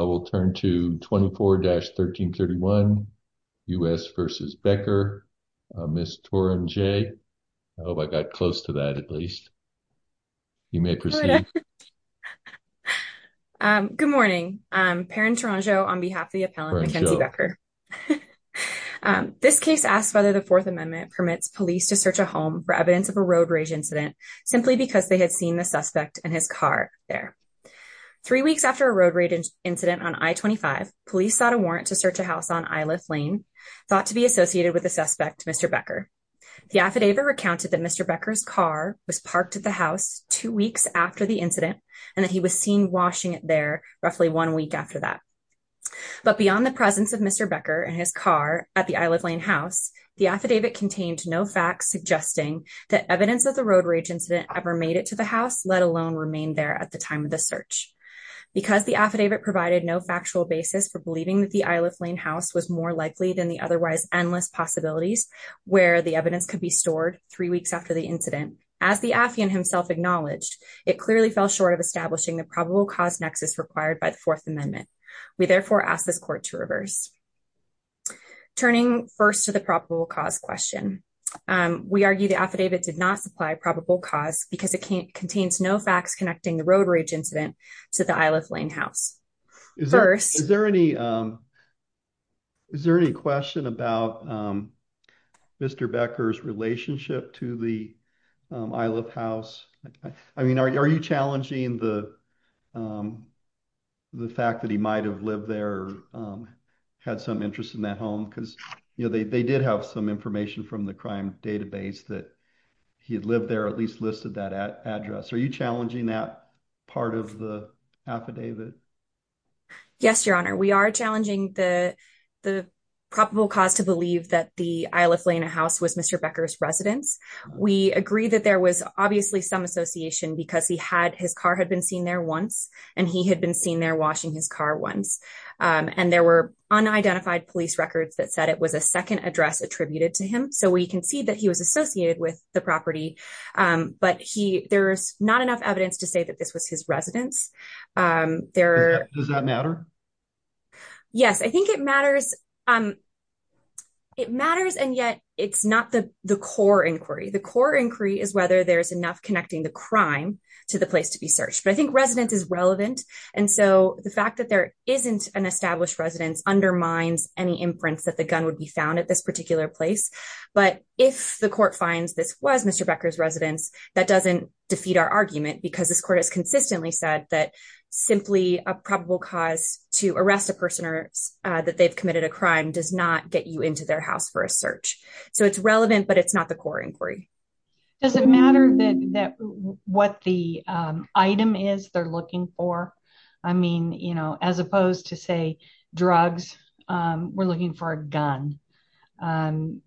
We'll turn to 24-1331, U.S. v. Becker, Ms. Torrenjay. I hope I got close to that at least. You may proceed. Good morning. Perrin Toronjo on behalf of the appellant Mackenzie Becker. This case asks whether the Fourth Amendment permits police to search a home for evidence of a road rage incident simply because they had seen the suspect and his car there. Three weeks after a road rage incident on I-25, police sought a warrant to search a house on I-Lift Lane, thought to be associated with the suspect, Mr. Becker. The affidavit recounted that Mr. Becker's car was parked at the house two weeks after the incident and that he was seen washing it there roughly one week after that. But beyond the presence of Mr. Becker and his car at the I-Lift Lane house, the affidavit contained no facts suggesting that evidence of the road rage ever made it to the house, let alone remain there at the time of the search. Because the affidavit provided no factual basis for believing that the I-Lift Lane house was more likely than the otherwise endless possibilities where the evidence could be stored three weeks after the incident, as the affiant himself acknowledged, it clearly fell short of establishing the probable cause nexus required by the Fourth Amendment. We therefore ask this court to reverse. Turning first to the probable cause question, we argue the affidavit did not supply probable cause because it contains no facts connecting the road rage incident to the I-Lift Lane house. First... Is there any question about Mr. Becker's relationship to the I-Lift House? I mean, are you challenging the fact that he might have lived there or had some interest in that because, you know, they did have some information from the crime database that he had lived there, at least listed that address. Are you challenging that part of the affidavit? Yes, Your Honor, we are challenging the probable cause to believe that the I-Lift Lane house was Mr. Becker's residence. We agree that there was obviously some association because he had, his car had been seen there once and he had been seen there washing his car once and there were unidentified police records that said it was a second address attributed to him, so we can see that he was associated with the property, but there's not enough evidence to say that this was his residence. Does that matter? Yes, I think it matters, it matters and yet it's not the the core inquiry. The core inquiry is whether there's enough connecting the crime to the place to be searched, but I think residence is relevant and so the fact there isn't an established residence undermines any imprints that the gun would be found at this particular place, but if the court finds this was Mr. Becker's residence, that doesn't defeat our argument because this court has consistently said that simply a probable cause to arrest a person or that they've committed a crime does not get you into their house for a search, so it's relevant but it's not the core inquiry. Does it matter that what the item is they're looking for? I mean, you know, as opposed to say drugs, we're looking for a gun and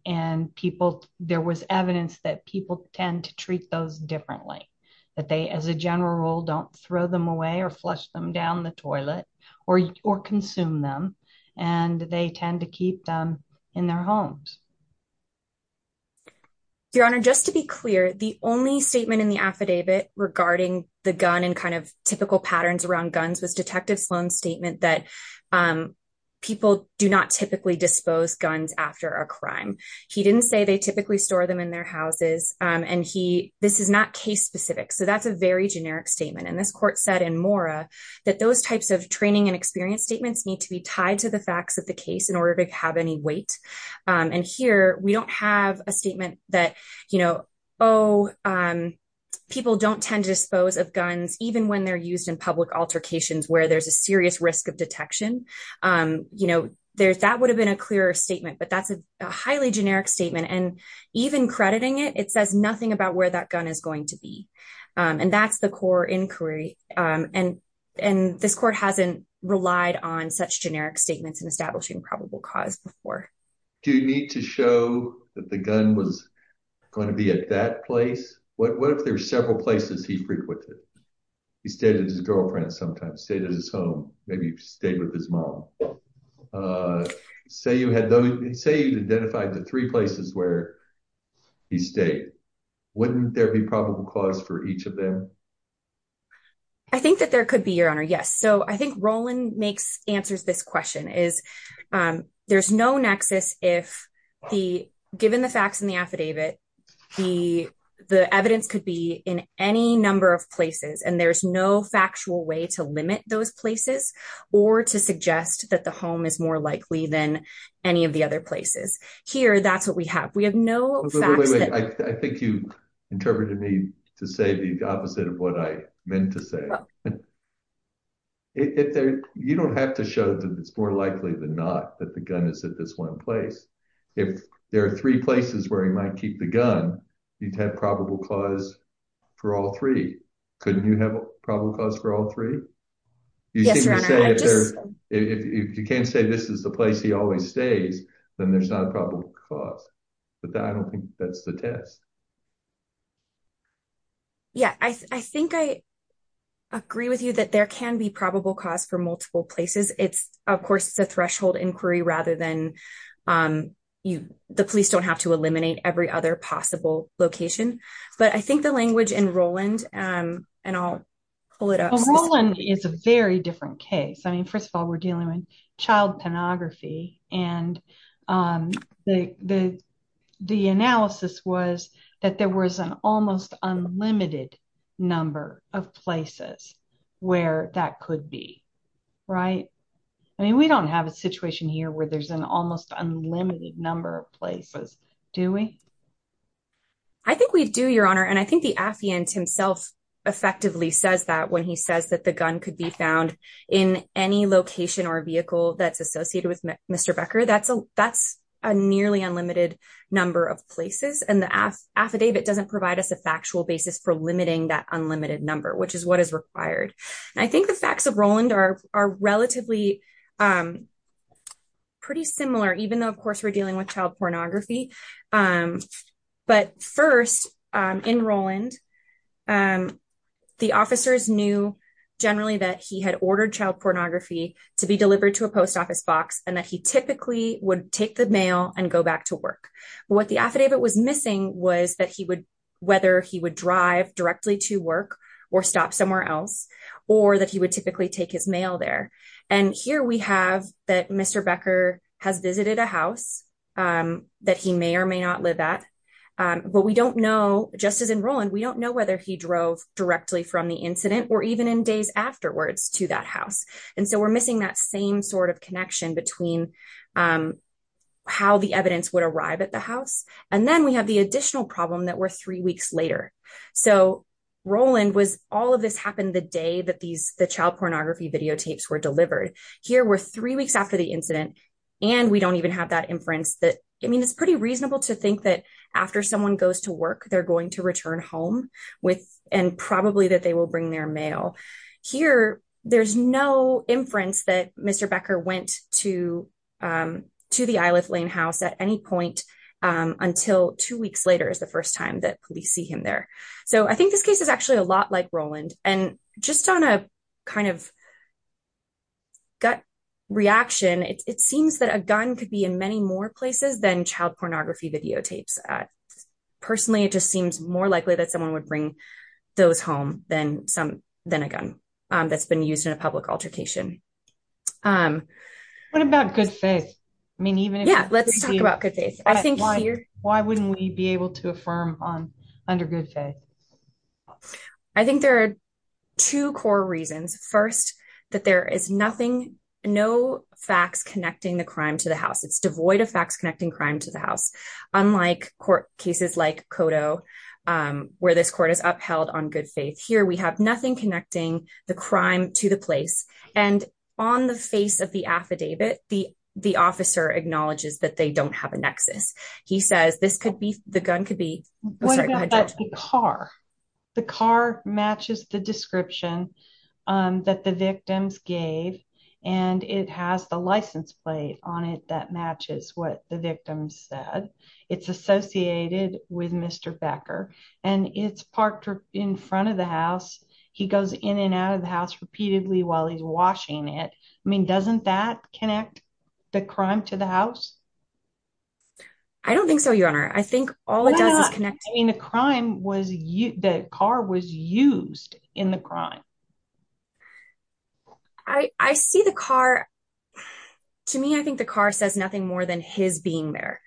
there was evidence that people tend to treat those differently, that they as a general rule don't throw them away or flush them down the toilet or consume them and they tend to keep them in their homes. Your honor, just to be clear, the only statement in the affidavit regarding the gun and kind of typical patterns around guns was Detective Sloan's statement that people do not typically dispose guns after a crime. He didn't say they typically store them in their houses and this is not case specific, so that's a very generic statement and this court said in Mora that those types of training and experience statements need to be tied to the facts of the case in order to have any weight and here we don't have a statement that, you know, oh, people don't tend to dispose of guns even when they're used in public altercations where there's a serious risk of detection. You know, that would have been a clearer statement but that's a highly generic statement and even crediting it, it says nothing about where that gun is going to be and that's the core inquiry and this court hasn't relied on such generic statements in establishing probable cause before. Do you need to show that the gun was going to be at that place? What if there's several places he frequented? He stayed at his girlfriend's sometimes, stayed at his home, maybe stayed with his mom. Say you had identified the three places where he stayed, wouldn't there be probable cause for each of them? I think that there could be, yes. So I think Roland answers this question. There's no nexus if given the facts in the affidavit, the evidence could be in any number of places and there's no factual way to limit those places or to suggest that the home is more likely than any of the other places. Here, that's what we have. We have no facts. I think you interpreted me to say the opposite of what I meant to say. You don't have to show that it's more likely than not that the gun is at this one place. If there are three places where he might keep the gun, you'd have probable cause for all three. Couldn't you have a probable cause for all three? If you can't say this is the place he always stays, then there's not a probable cause, but I don't think that's the test. Yeah, I think I agree with you that there can be probable cause for multiple places. It's, of course, it's a threshold inquiry rather than the police don't have to eliminate every other possible location. But I think the language in Roland, and I'll pull it up. Roland is a very different case. I mean, first of all, we're dealing with child pornography and the analysis was that there was an almost unlimited number of places where that could be, right? I mean, we don't have a situation here where there's an almost unlimited number of places, do we? I think we do, Your Honor, and I think the affiant himself effectively says that when he says that the gun could be found in any location or vehicle that's associated with Mr. Becker. That's a nearly unlimited number of places and the affidavit doesn't provide us a factual basis for limiting that unlimited number, which is what is required. I think the facts of Roland are relatively pretty similar, even though, of course, we're dealing with child pornography. But first in Roland, the officers knew generally that he had ordered child pornography to be What the affidavit was missing was that he would, whether he would drive directly to work or stop somewhere else, or that he would typically take his mail there. And here we have that Mr. Becker has visited a house that he may or may not live at. But we don't know, just as in Roland, we don't know whether he drove directly from the incident or even in days afterwards to that house. And so we're missing that same sort of connection between how the evidence would arrive at the house. And then we have the additional problem that were three weeks later. So Roland was all of this happened the day that these the child pornography videotapes were delivered. Here were three weeks after the incident. And we don't even have that inference that, I mean, it's pretty reasonable to think that after someone goes to work, they're going to return home with and probably that they bring their mail. Here, there's no inference that Mr. Becker went to the Isle of Lane house at any point until two weeks later is the first time that police see him there. So I think this case is actually a lot like Roland. And just on a kind of gut reaction, it seems that a gun could be in many more places than child pornography videotapes. Personally, it just seems more likely that someone would bring those home than some than a gun that's been used in a public altercation. What about good faith? I mean, even let's talk about good faith. I think here, why wouldn't we be able to affirm on under good faith? I think there are two core reasons. First, that there is nothing, no facts connecting the crime to the house. It's devoid of facts to the house. Unlike court cases like Cotto, where this court is upheld on good faith. Here, we have nothing connecting the crime to the place. And on the face of the affidavit, the officer acknowledges that they don't have a nexus. He says, this could be, the gun could be... The car matches the description that the victims gave. And it has the license plate on it that matches what the victim said. It's associated with Mr. Becker and it's parked in front of the house. He goes in and out of the house repeatedly while he's washing it. I mean, doesn't that connect the crime to the house? I don't think so, your honor. I think all it does is connect. I mean, the crime was, the car was used in the crime. I see the car. To me, I think the car says nothing more than his being there.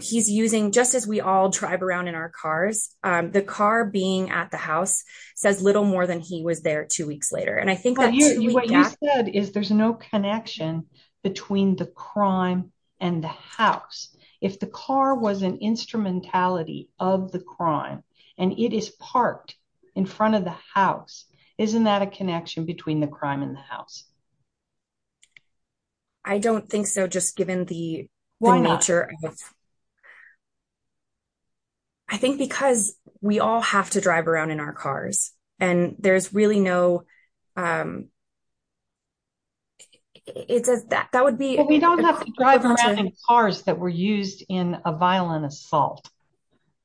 He's using, just as we all drive around in our cars, the car being at the house says little more than he was there two weeks later. And I think that... What you said is there's no connection between the crime and the house. If the car was an instrumentality of the crime and it is parked in front of the house, isn't that a connection between the crime and the house? I don't think so, just given the nature. I think because we all have to drive around in our cars and there's really no... It says that, that would be... We don't have to drive around in cars that were used in a violent assault.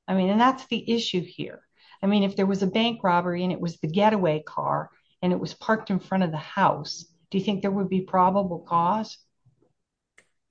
I mean, and that's the issue here. I mean, if there was a bank robbery and it was the getaway car and it was parked in front of the house, do you think there would be probable cause?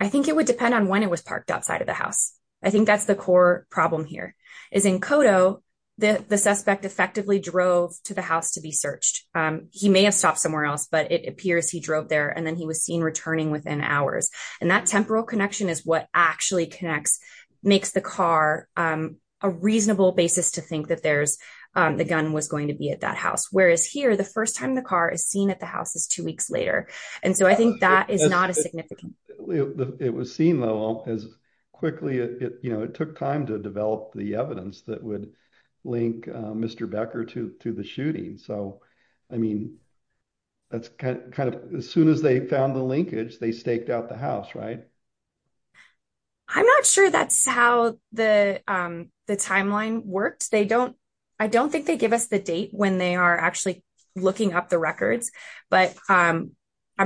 I think it would depend on when it was parked outside of the house. I think that's the core problem here, is in Cotto, the suspect effectively drove to the house to be searched. He may have stopped somewhere else, but it appears he drove there and then he was seen returning within hours. And that temporal connection is what actually connects, makes the car a reasonable basis to think that the gun was going to be at that house. Whereas here, the first time the car is seen at the house is two weeks later. And so I think that is not as significant. It was seen though as quickly... It took time to develop the evidence that would link Mr. Becker to the shooting. So, I mean, that's kind of... As soon as they found the linkage, they staked out the house, right? I'm not sure that's how the timeline worked. I don't think they give us the date when they are actually looking up the records, but I'm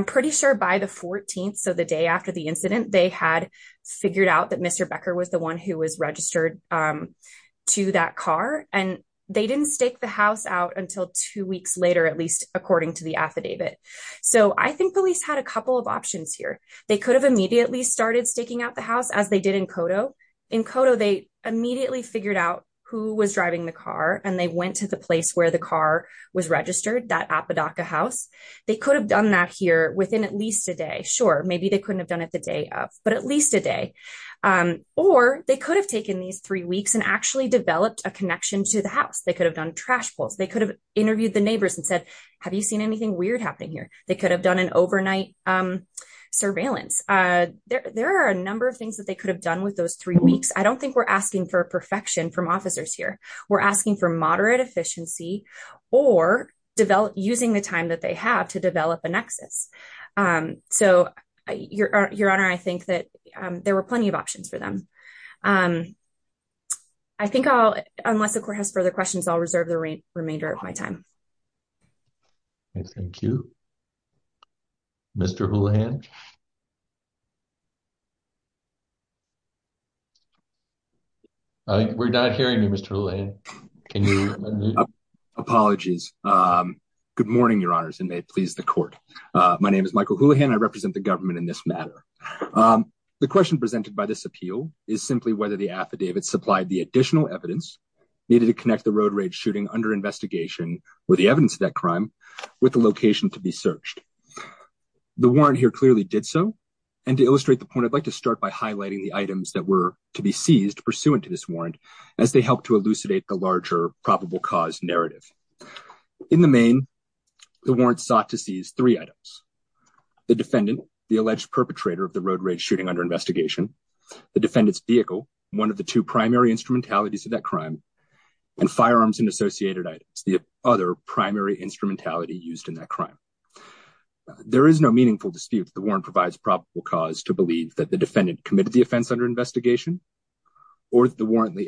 pretty sure by the 14th, so the day after the incident, they had figured out that Mr. Becker was the one who was registered to that car. And they didn't stake the house out until two weeks later, at least according to the affidavit. So I think police had a couple of options here. They could have immediately started staking out the house as they did in Cotto. In Cotto, they immediately figured out who was driving the car and they went to the place where the car was registered, that Apodaca house. They could have done that here within at least a day. Sure, maybe they couldn't have done it the day of, but at least a day. Or they could have taken these three weeks and actually developed a connection to the house. They could have done trash pulls. They could have interviewed the neighbors and said, have you seen anything weird happening here? They could have done an overnight surveillance. There are a number of things that they could have done with those three weeks. I don't think we're asking for perfection from officers here. We're asking for moderate efficiency or using the time that they have to develop a nexus. So your honor, I think that there were plenty of options for them. I think I'll, unless the court has further questions, I'll reserve the remainder of my time. Thank you, Mr. Houlihan. We're not hearing you, Mr. Houlihan. Apologies. Good morning, your honors, and may it please the court. My name is Michael Houlihan. I represent the government in this matter. The question presented by this appeal is simply whether the affidavit supplied the additional evidence needed to connect the road rage shooting under investigation or the evidence of that crime with the location to be searched. The warrant here clearly did so. And to illustrate the point, I'd like to start by highlighting the items that were to be seized pursuant to this warrant as they help to elucidate the larger probable cause narrative. In the main, the warrant sought to seize three items. The defendant, the alleged perpetrator of the road rage shooting under investigation, the defendant's vehicle, one of the two primary instrumentalities of that crime, and firearms and associated items, the other primary instrumentality used in that crime. There is no meaningful dispute that the warrant provides probable cause to believe that the defendant committed the offense under investigation, or the warrant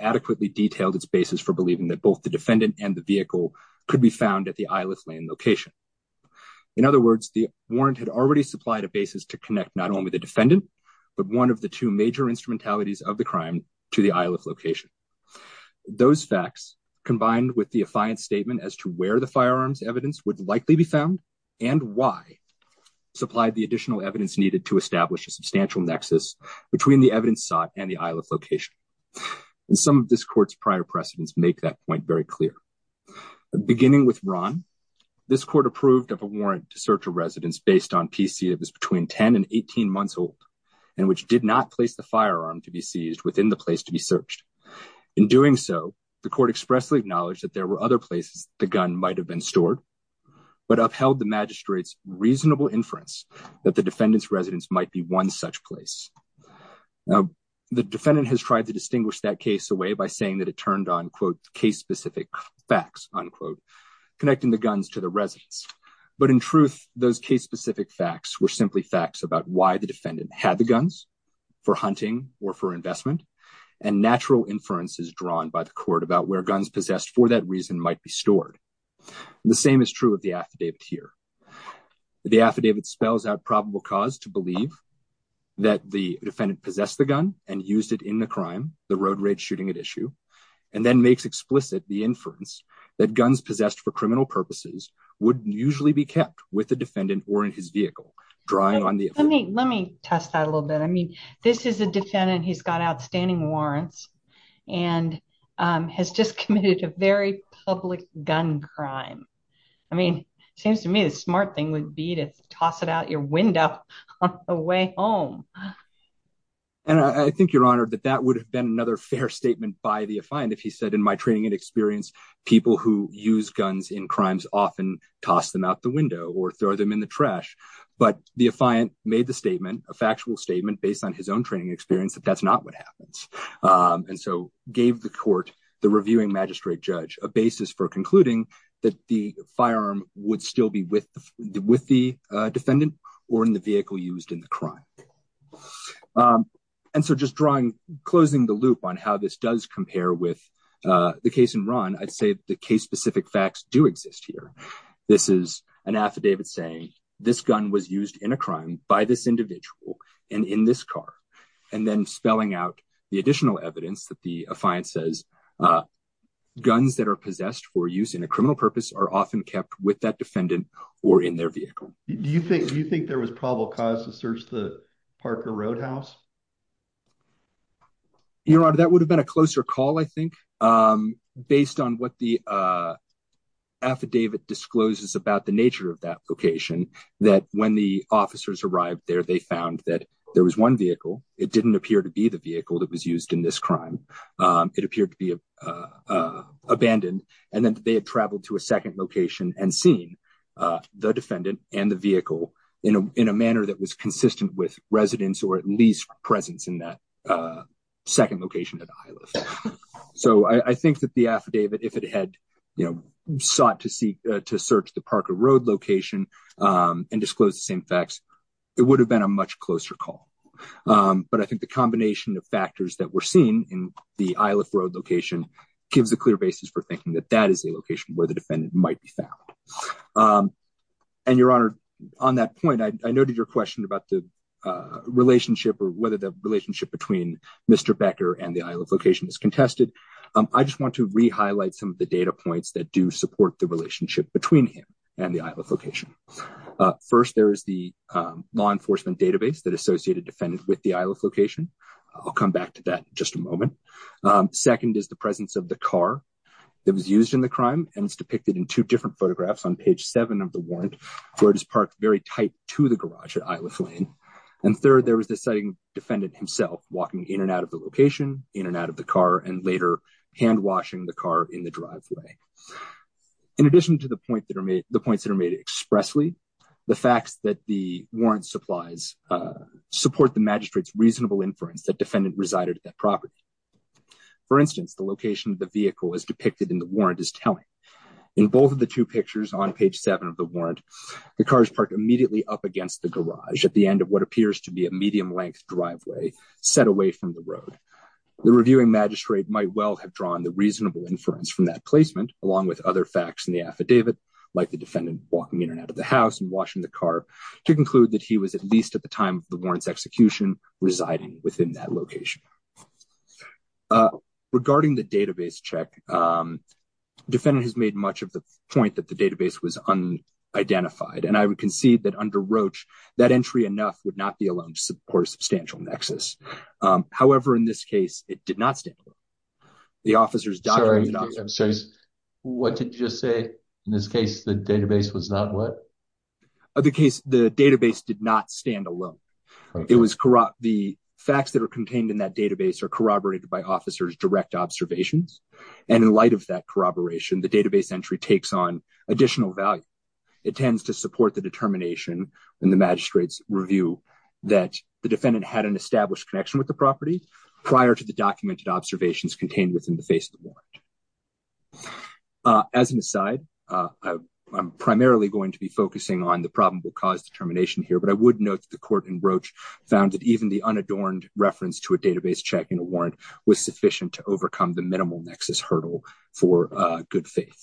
adequately detailed its basis for believing that both the defendant and the vehicle could be found at the Iliff Lane location. In other words, the warrant had already supplied a basis to connect not only the defendant, but one of the two major instrumentalities of the crime to the Iliff location. Those facts, combined with the affiant statement as to where the firearms evidence would likely be found and why, supplied the additional evidence needed to a substantial nexus between the evidence sought and the Iliff location. And some of this court's prior precedents make that point very clear. Beginning with Ron, this court approved of a warrant to search a residence based on PC that was between 10 and 18 months old, and which did not place the firearm to be seized within the place to be searched. In doing so, the court expressly acknowledged that there were other places the gun might have been stored, but upheld the magistrate's inference that the defendant's residence might be one such place. Now, the defendant has tried to distinguish that case away by saying that it turned on, quote, case-specific facts, unquote, connecting the guns to the residence. But in truth, those case-specific facts were simply facts about why the defendant had the guns for hunting or for investment, and natural inferences drawn by the court about where guns possessed for that reason might be stored. The same is true of the affidavit here. The affidavit spells out probable cause to believe that the defendant possessed the gun and used it in the crime, the road rage shooting at issue, and then makes explicit the inference that guns possessed for criminal purposes would usually be kept with the defendant or in his vehicle, drawing on the... Let me test that a little bit. I mean, this is a defendant. He's got outstanding warrants and has just committed a very public gun crime. I mean, it seems to me the smart thing would be to toss it out your window on the way home. And I think you're honored that that would have been another fair statement by the affiant if he said, in my training and experience, people who use guns in crimes often toss them out the window or throw them in the trash. But the affiant made the statement, a factual statement based on his own training experience, that that's not what happens. And so gave the court, the reviewing magistrate judge, a basis for concluding that the firearm would still be with the defendant or in the vehicle used in the crime. And so just closing the loop on how this does compare with the case in Ron, I'd say the case-specific facts do exist here. This is an affidavit saying this gun was used in a crime by this individual and in this car. And then spelling out the additional evidence that the affiant says guns that are possessed for use in a criminal purpose are often kept with that defendant or in their vehicle. Do you think there was probable cause to search the Parker Roadhouse? Your Honor, that would have been a closer call, I think, based on what the affidavit discloses about the nature of that location that when the officers arrived there, they found that there was one vehicle. It didn't appear to be the vehicle that was used in this crime. It appeared to be abandoned. And then they had traveled to a second location and seen the defendant and the vehicle in a manner that was consistent with residence or at least presence in that second location at a high level. So I think that the affidavit, if it had sought to search the Parker Road location and disclose the same facts, it would have been a much closer call. But I think the combination of factors that were seen in the Isle of Road location gives a clear basis for thinking that that is a location where the defendant might be found. And, Your Honor, on that point, I noted your question about the relationship or whether the relationship between Mr. Becker and the Isle of Location is contested. I just want to re-highlight some of the data points that do support the relationship between him and the Isle of Location. First, there is the law enforcement database that associated defendants with the Isle of Location. I'll come back to that in just a moment. Second is the presence of the car that was used in the crime. And it's depicted in two different photographs on page seven of the warrant, where it is parked very tight to the garage at Isle of Lane. And third, there was the defendant himself walking in and out of the location, in and out of the car, and later hand-washing the car in the driveway. In addition to the points that are made expressly, the facts that the warrant supplies support the magistrate's reasonable inference that defendant resided at that property. For instance, the location of the vehicle is depicted in the warrant as telling. In both of the two pictures on page seven of the warrant, the car is parked immediately up against the garage at the end of what appears to be a medium-length driveway set away from the road. The reviewing magistrate might well have drawn the reasonable inference from that placement, along with other facts in the affidavit, like the defendant walking in and out of the house and washing the car, to conclude that he was, at least at the time of the warrant's execution, residing within that location. Regarding the database check, defendant has made much of the point that the database was unidentified. And I would concede that under Roach, that entry enough would not be alone to support a substantial nexus. However, in this case, it did not stand alone. The officer's documents... I'm sorry, what did you just say? In this case, the database was not what? The case, the database did not stand alone. It was corrupt. The facts that are contained in that database are corroborated by officer's direct observations. And in light of that corroboration, the database entry takes on additional value. It tends to support the determination in the magistrate's review that the defendant had an established connection with the property prior to the documented observations contained within the face of the warrant. As an aside, I'm primarily going to be focusing on the probable cause determination here, but I would note that the court in Roach found that even the unadorned reference to a database check in a warrant was sufficient to overcome the minimal nexus hurdle for good faith.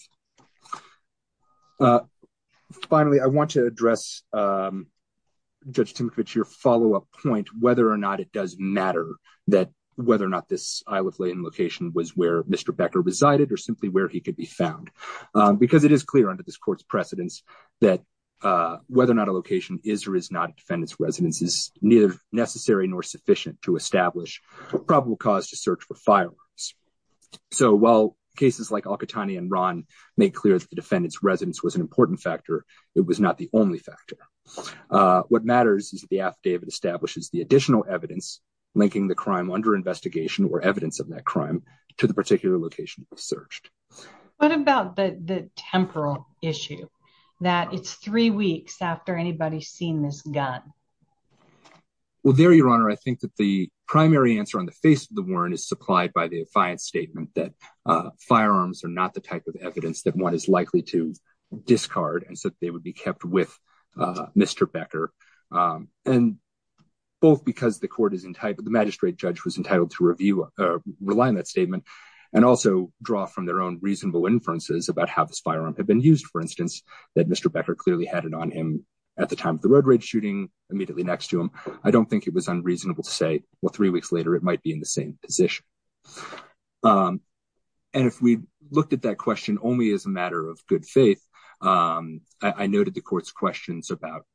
Finally, I want to address, Judge Timothy, to your follow-up point, whether or not it does matter that whether or not this Isle of Layton location was where Mr. Becker resided or simply where he could be found. Because it is clear under this court's precedence that whether or not a location is or is not a defendant's residence is neither necessary nor sufficient to establish probable cause to search for firearms. So while cases like Al-Qahtani and Ron make clear that the defendant's residence was an important factor, it was not the only factor. What matters is the affidavit establishes the additional evidence linking the crime under investigation or evidence of that crime to the particular location it was searched. What about the temporal issue that it's three weeks after anybody's seen this gun? Well, there, Your Honor, I think that the primary answer on the face of the warrant is supplied by the affiant statement that firearms are not the type of evidence that one is likely to discard and so that they would be kept with Mr. Becker. And both because the court is entitled, the magistrate judge was entitled to review or rely on that statement and also draw from their own reasonable inferences about how this firearm had been used, for instance, that Mr. Becker clearly had it on him at the time of the road raid shooting immediately next to him. I don't think it was unreasonable to say, well, three weeks later it might be in the same position. And if we looked at that question only as a matter of good faith, I noted the court's questions about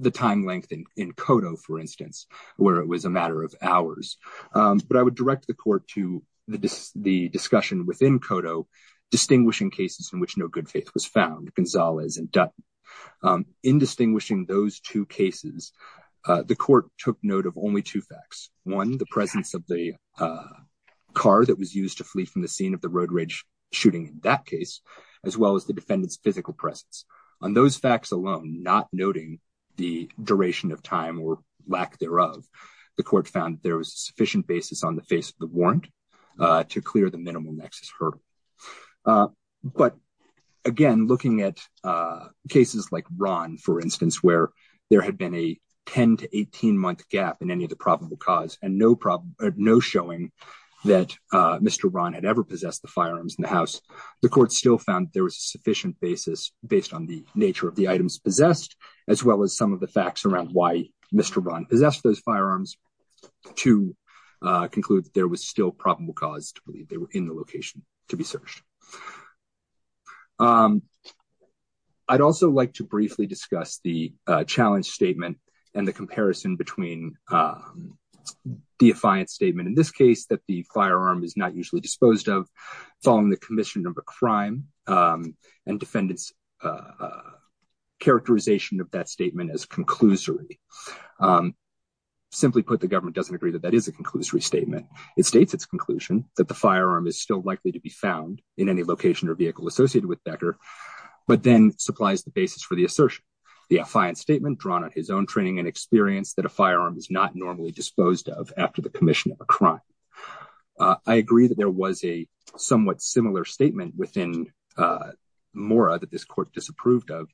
the time length in Kodo, for instance, where it was a matter of hours. But I would direct the court to the discussion within Kodo distinguishing cases in which no good faith was found, Gonzalez and Dutton. In distinguishing those two cases, the court took note of only two facts. One, the presence of the car that was used to flee from the scene of the road rage shooting in that case, as well as the defendant's physical presence. On those facts alone, not noting the duration of time or lack thereof, the court found there was a sufficient basis on the face of the warrant to clear the hurdle. But again, looking at cases like Ron, for instance, where there had been a 10 to 18 month gap in any of the probable cause and no showing that Mr. Ron had ever possessed the firearms in the house, the court still found there was a sufficient basis based on the nature of the items possessed, as well as some of the facts around why Mr. Ron possessed those firearms to conclude that there was still probable cause to believe they were in the location to be searched. I'd also like to briefly discuss the challenge statement and the comparison between the defiant statement, in this case, that the firearm is not usually disposed of, following the commission of a crime and defendant's characterization of that statement as conclusory. Simply put, the government doesn't agree that that is a conclusory statement. It states its conclusion that the firearm is still likely to be found in any location or vehicle associated with Becker, but then supplies the basis for the assertion. The defiant statement drawn on his own training and experience that a firearm is not normally disposed of after the commission of a crime. I agree that there was a somewhat similar statement within Mora that this disapproved of,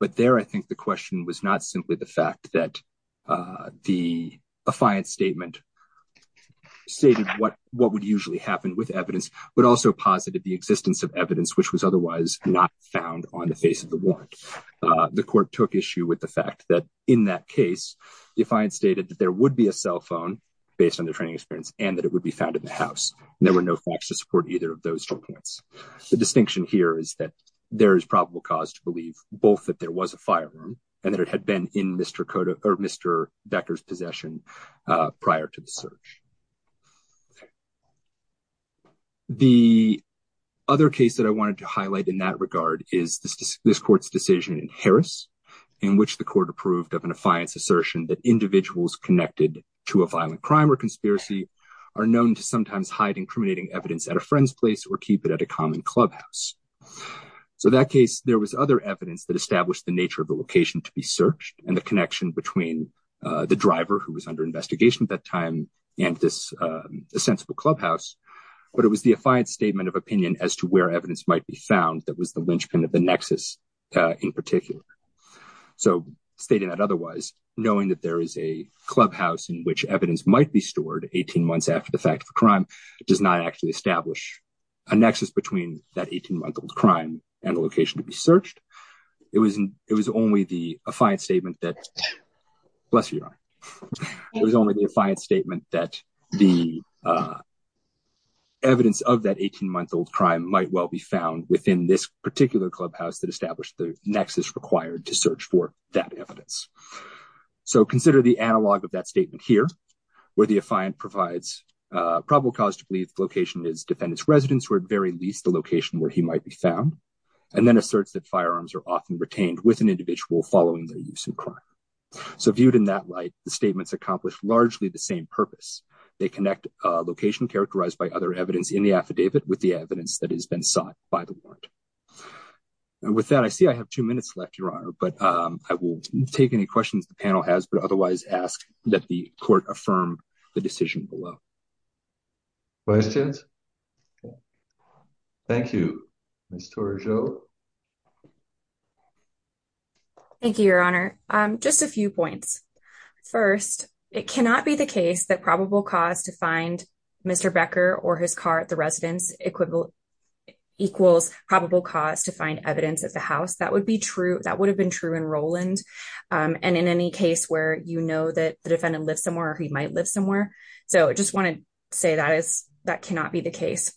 but there I think the question was not simply the fact that the defiant statement stated what would usually happen with evidence, but also posited the existence of evidence which was otherwise not found on the face of the warrant. The court took issue with the fact that in that case, the defiant stated that there would be a cell phone based on their training experience and that it would be found in the house. There were no facts to support either of those two points. The distinction here is that there is probable cause to believe both that there was a firearm and that it had been in Mr. Becker's possession prior to the search. The other case that I wanted to highlight in that regard is this court's decision in Harris in which the court approved of an affiance assertion that individuals connected to a violent crime or conspiracy are known to sometimes hide incriminating evidence at a friend's place or keep it at a common clubhouse. So that case, there was other evidence that established the nature of the location to be searched and the connection between the driver who was under investigation at that time and this sensible clubhouse, but it was the affiance statement of opinion as to where evidence might be found that was the linchpin of the nexus in particular. So stating that otherwise, knowing that there is a clubhouse in which evidence might be stored 18 months after the fact of a crime does not actually establish a nexus between that 18-month-old crime and the location to be searched, it was only the affiance statement that, bless your eye, it was only the affiance statement that the evidence of that 18-month-old crime might well be found within this particular clubhouse that established the nexus required to search for that evidence. So consider the analog of that statement here where the affiant provides a probable cause to believe the location is defendant's residence or at very least the location where he might be found and then asserts that firearms are often retained with an individual following their use in crime. So viewed in that light, the statements accomplish largely the same purpose. They connect a location characterized by other evidence in the affidavit with the evidence that has been sought by the warrant. And with that, I see I have two minutes left, Your Honor, but I will take any questions the panel has but otherwise ask that the Court affirm the decision below. Questions? Thank you. Ms. Tourgeau? Thank you, Your Honor. Just a few points. First, it cannot be the case that probable cause to find Mr. Becker or his car at the residence equals probable cause to find evidence at the house. That would have been true in Roland and in any case where you know that the defendant lives somewhere or he might live somewhere. So I just want to say that cannot be the case.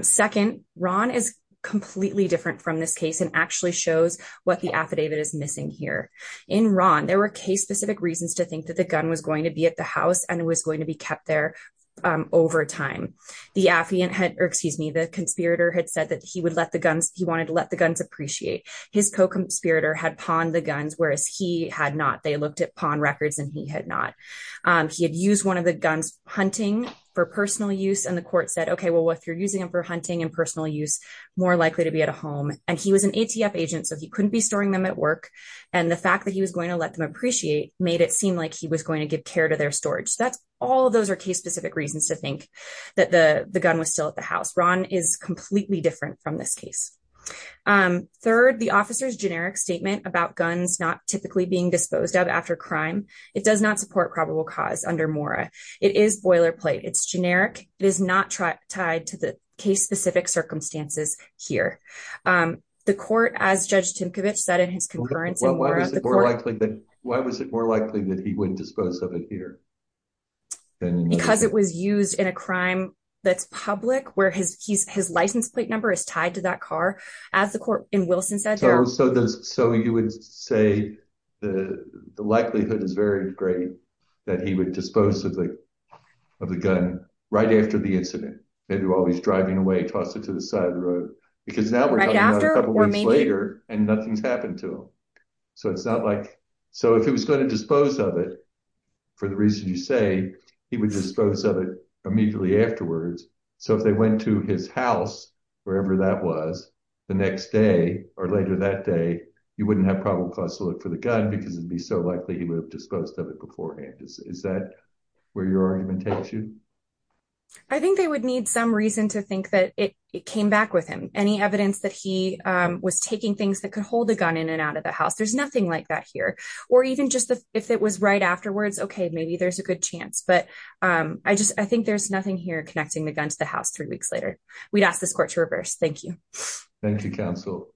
Second, Ron is completely different from this case and actually shows what the affidavit is missing here. In Ron, there were case-specific reasons to think that the gun was going to be at the house and it was going to be kept there over time. The conspirator had said that he wanted to let guns appreciate. His co-conspirator had pawned the guns whereas he had not. They looked at pawn records and he had not. He had used one of the guns hunting for personal use and the court said, okay, well, if you're using them for hunting and personal use, more likely to be at a home. And he was an ATF agent so he couldn't be storing them at work. And the fact that he was going to let them appreciate made it seem like he was going to give care to their storage. That's all those are case-specific reasons to think that the gun was still at the house. Ron is completely different from this case. Third, the officer's generic statement about guns not typically being disposed of after crime, it does not support probable cause under Mora. It is boilerplate. It's generic. It is not tied to the case-specific circumstances here. The court, as Judge Timkovich said in his concurrence in Mora, the court- Why was it more likely that he would dispose of it here? And because it was used in a crime that's public where his license plate number is tied to that car, as the court in Wilson said- So you would say the likelihood is very great that he would dispose of the gun right after the incident. Maybe while he's driving away, toss it to the side of the road because now we're talking about a couple of weeks later and nothing's happened to him. So it's not like- So if he was going to dispose of it, for the reason you say, he would dispose of it immediately afterwards. So if they went to his house, wherever that was, the next day or later that day, you wouldn't have probable cause to look for the gun because it'd be so likely he would have disposed of it beforehand. Is that where your argument takes you? I think they would need some reason to think that it came back with him. Any evidence that he was taking things that could hold a gun in and out of the house. There's nothing like that here. Or even just if it was right afterwards, okay, maybe there's a good chance. But I think there's nothing here connecting the gun to the house three weeks later. We'd ask this court to reverse. Thank you. Thank you, counsel.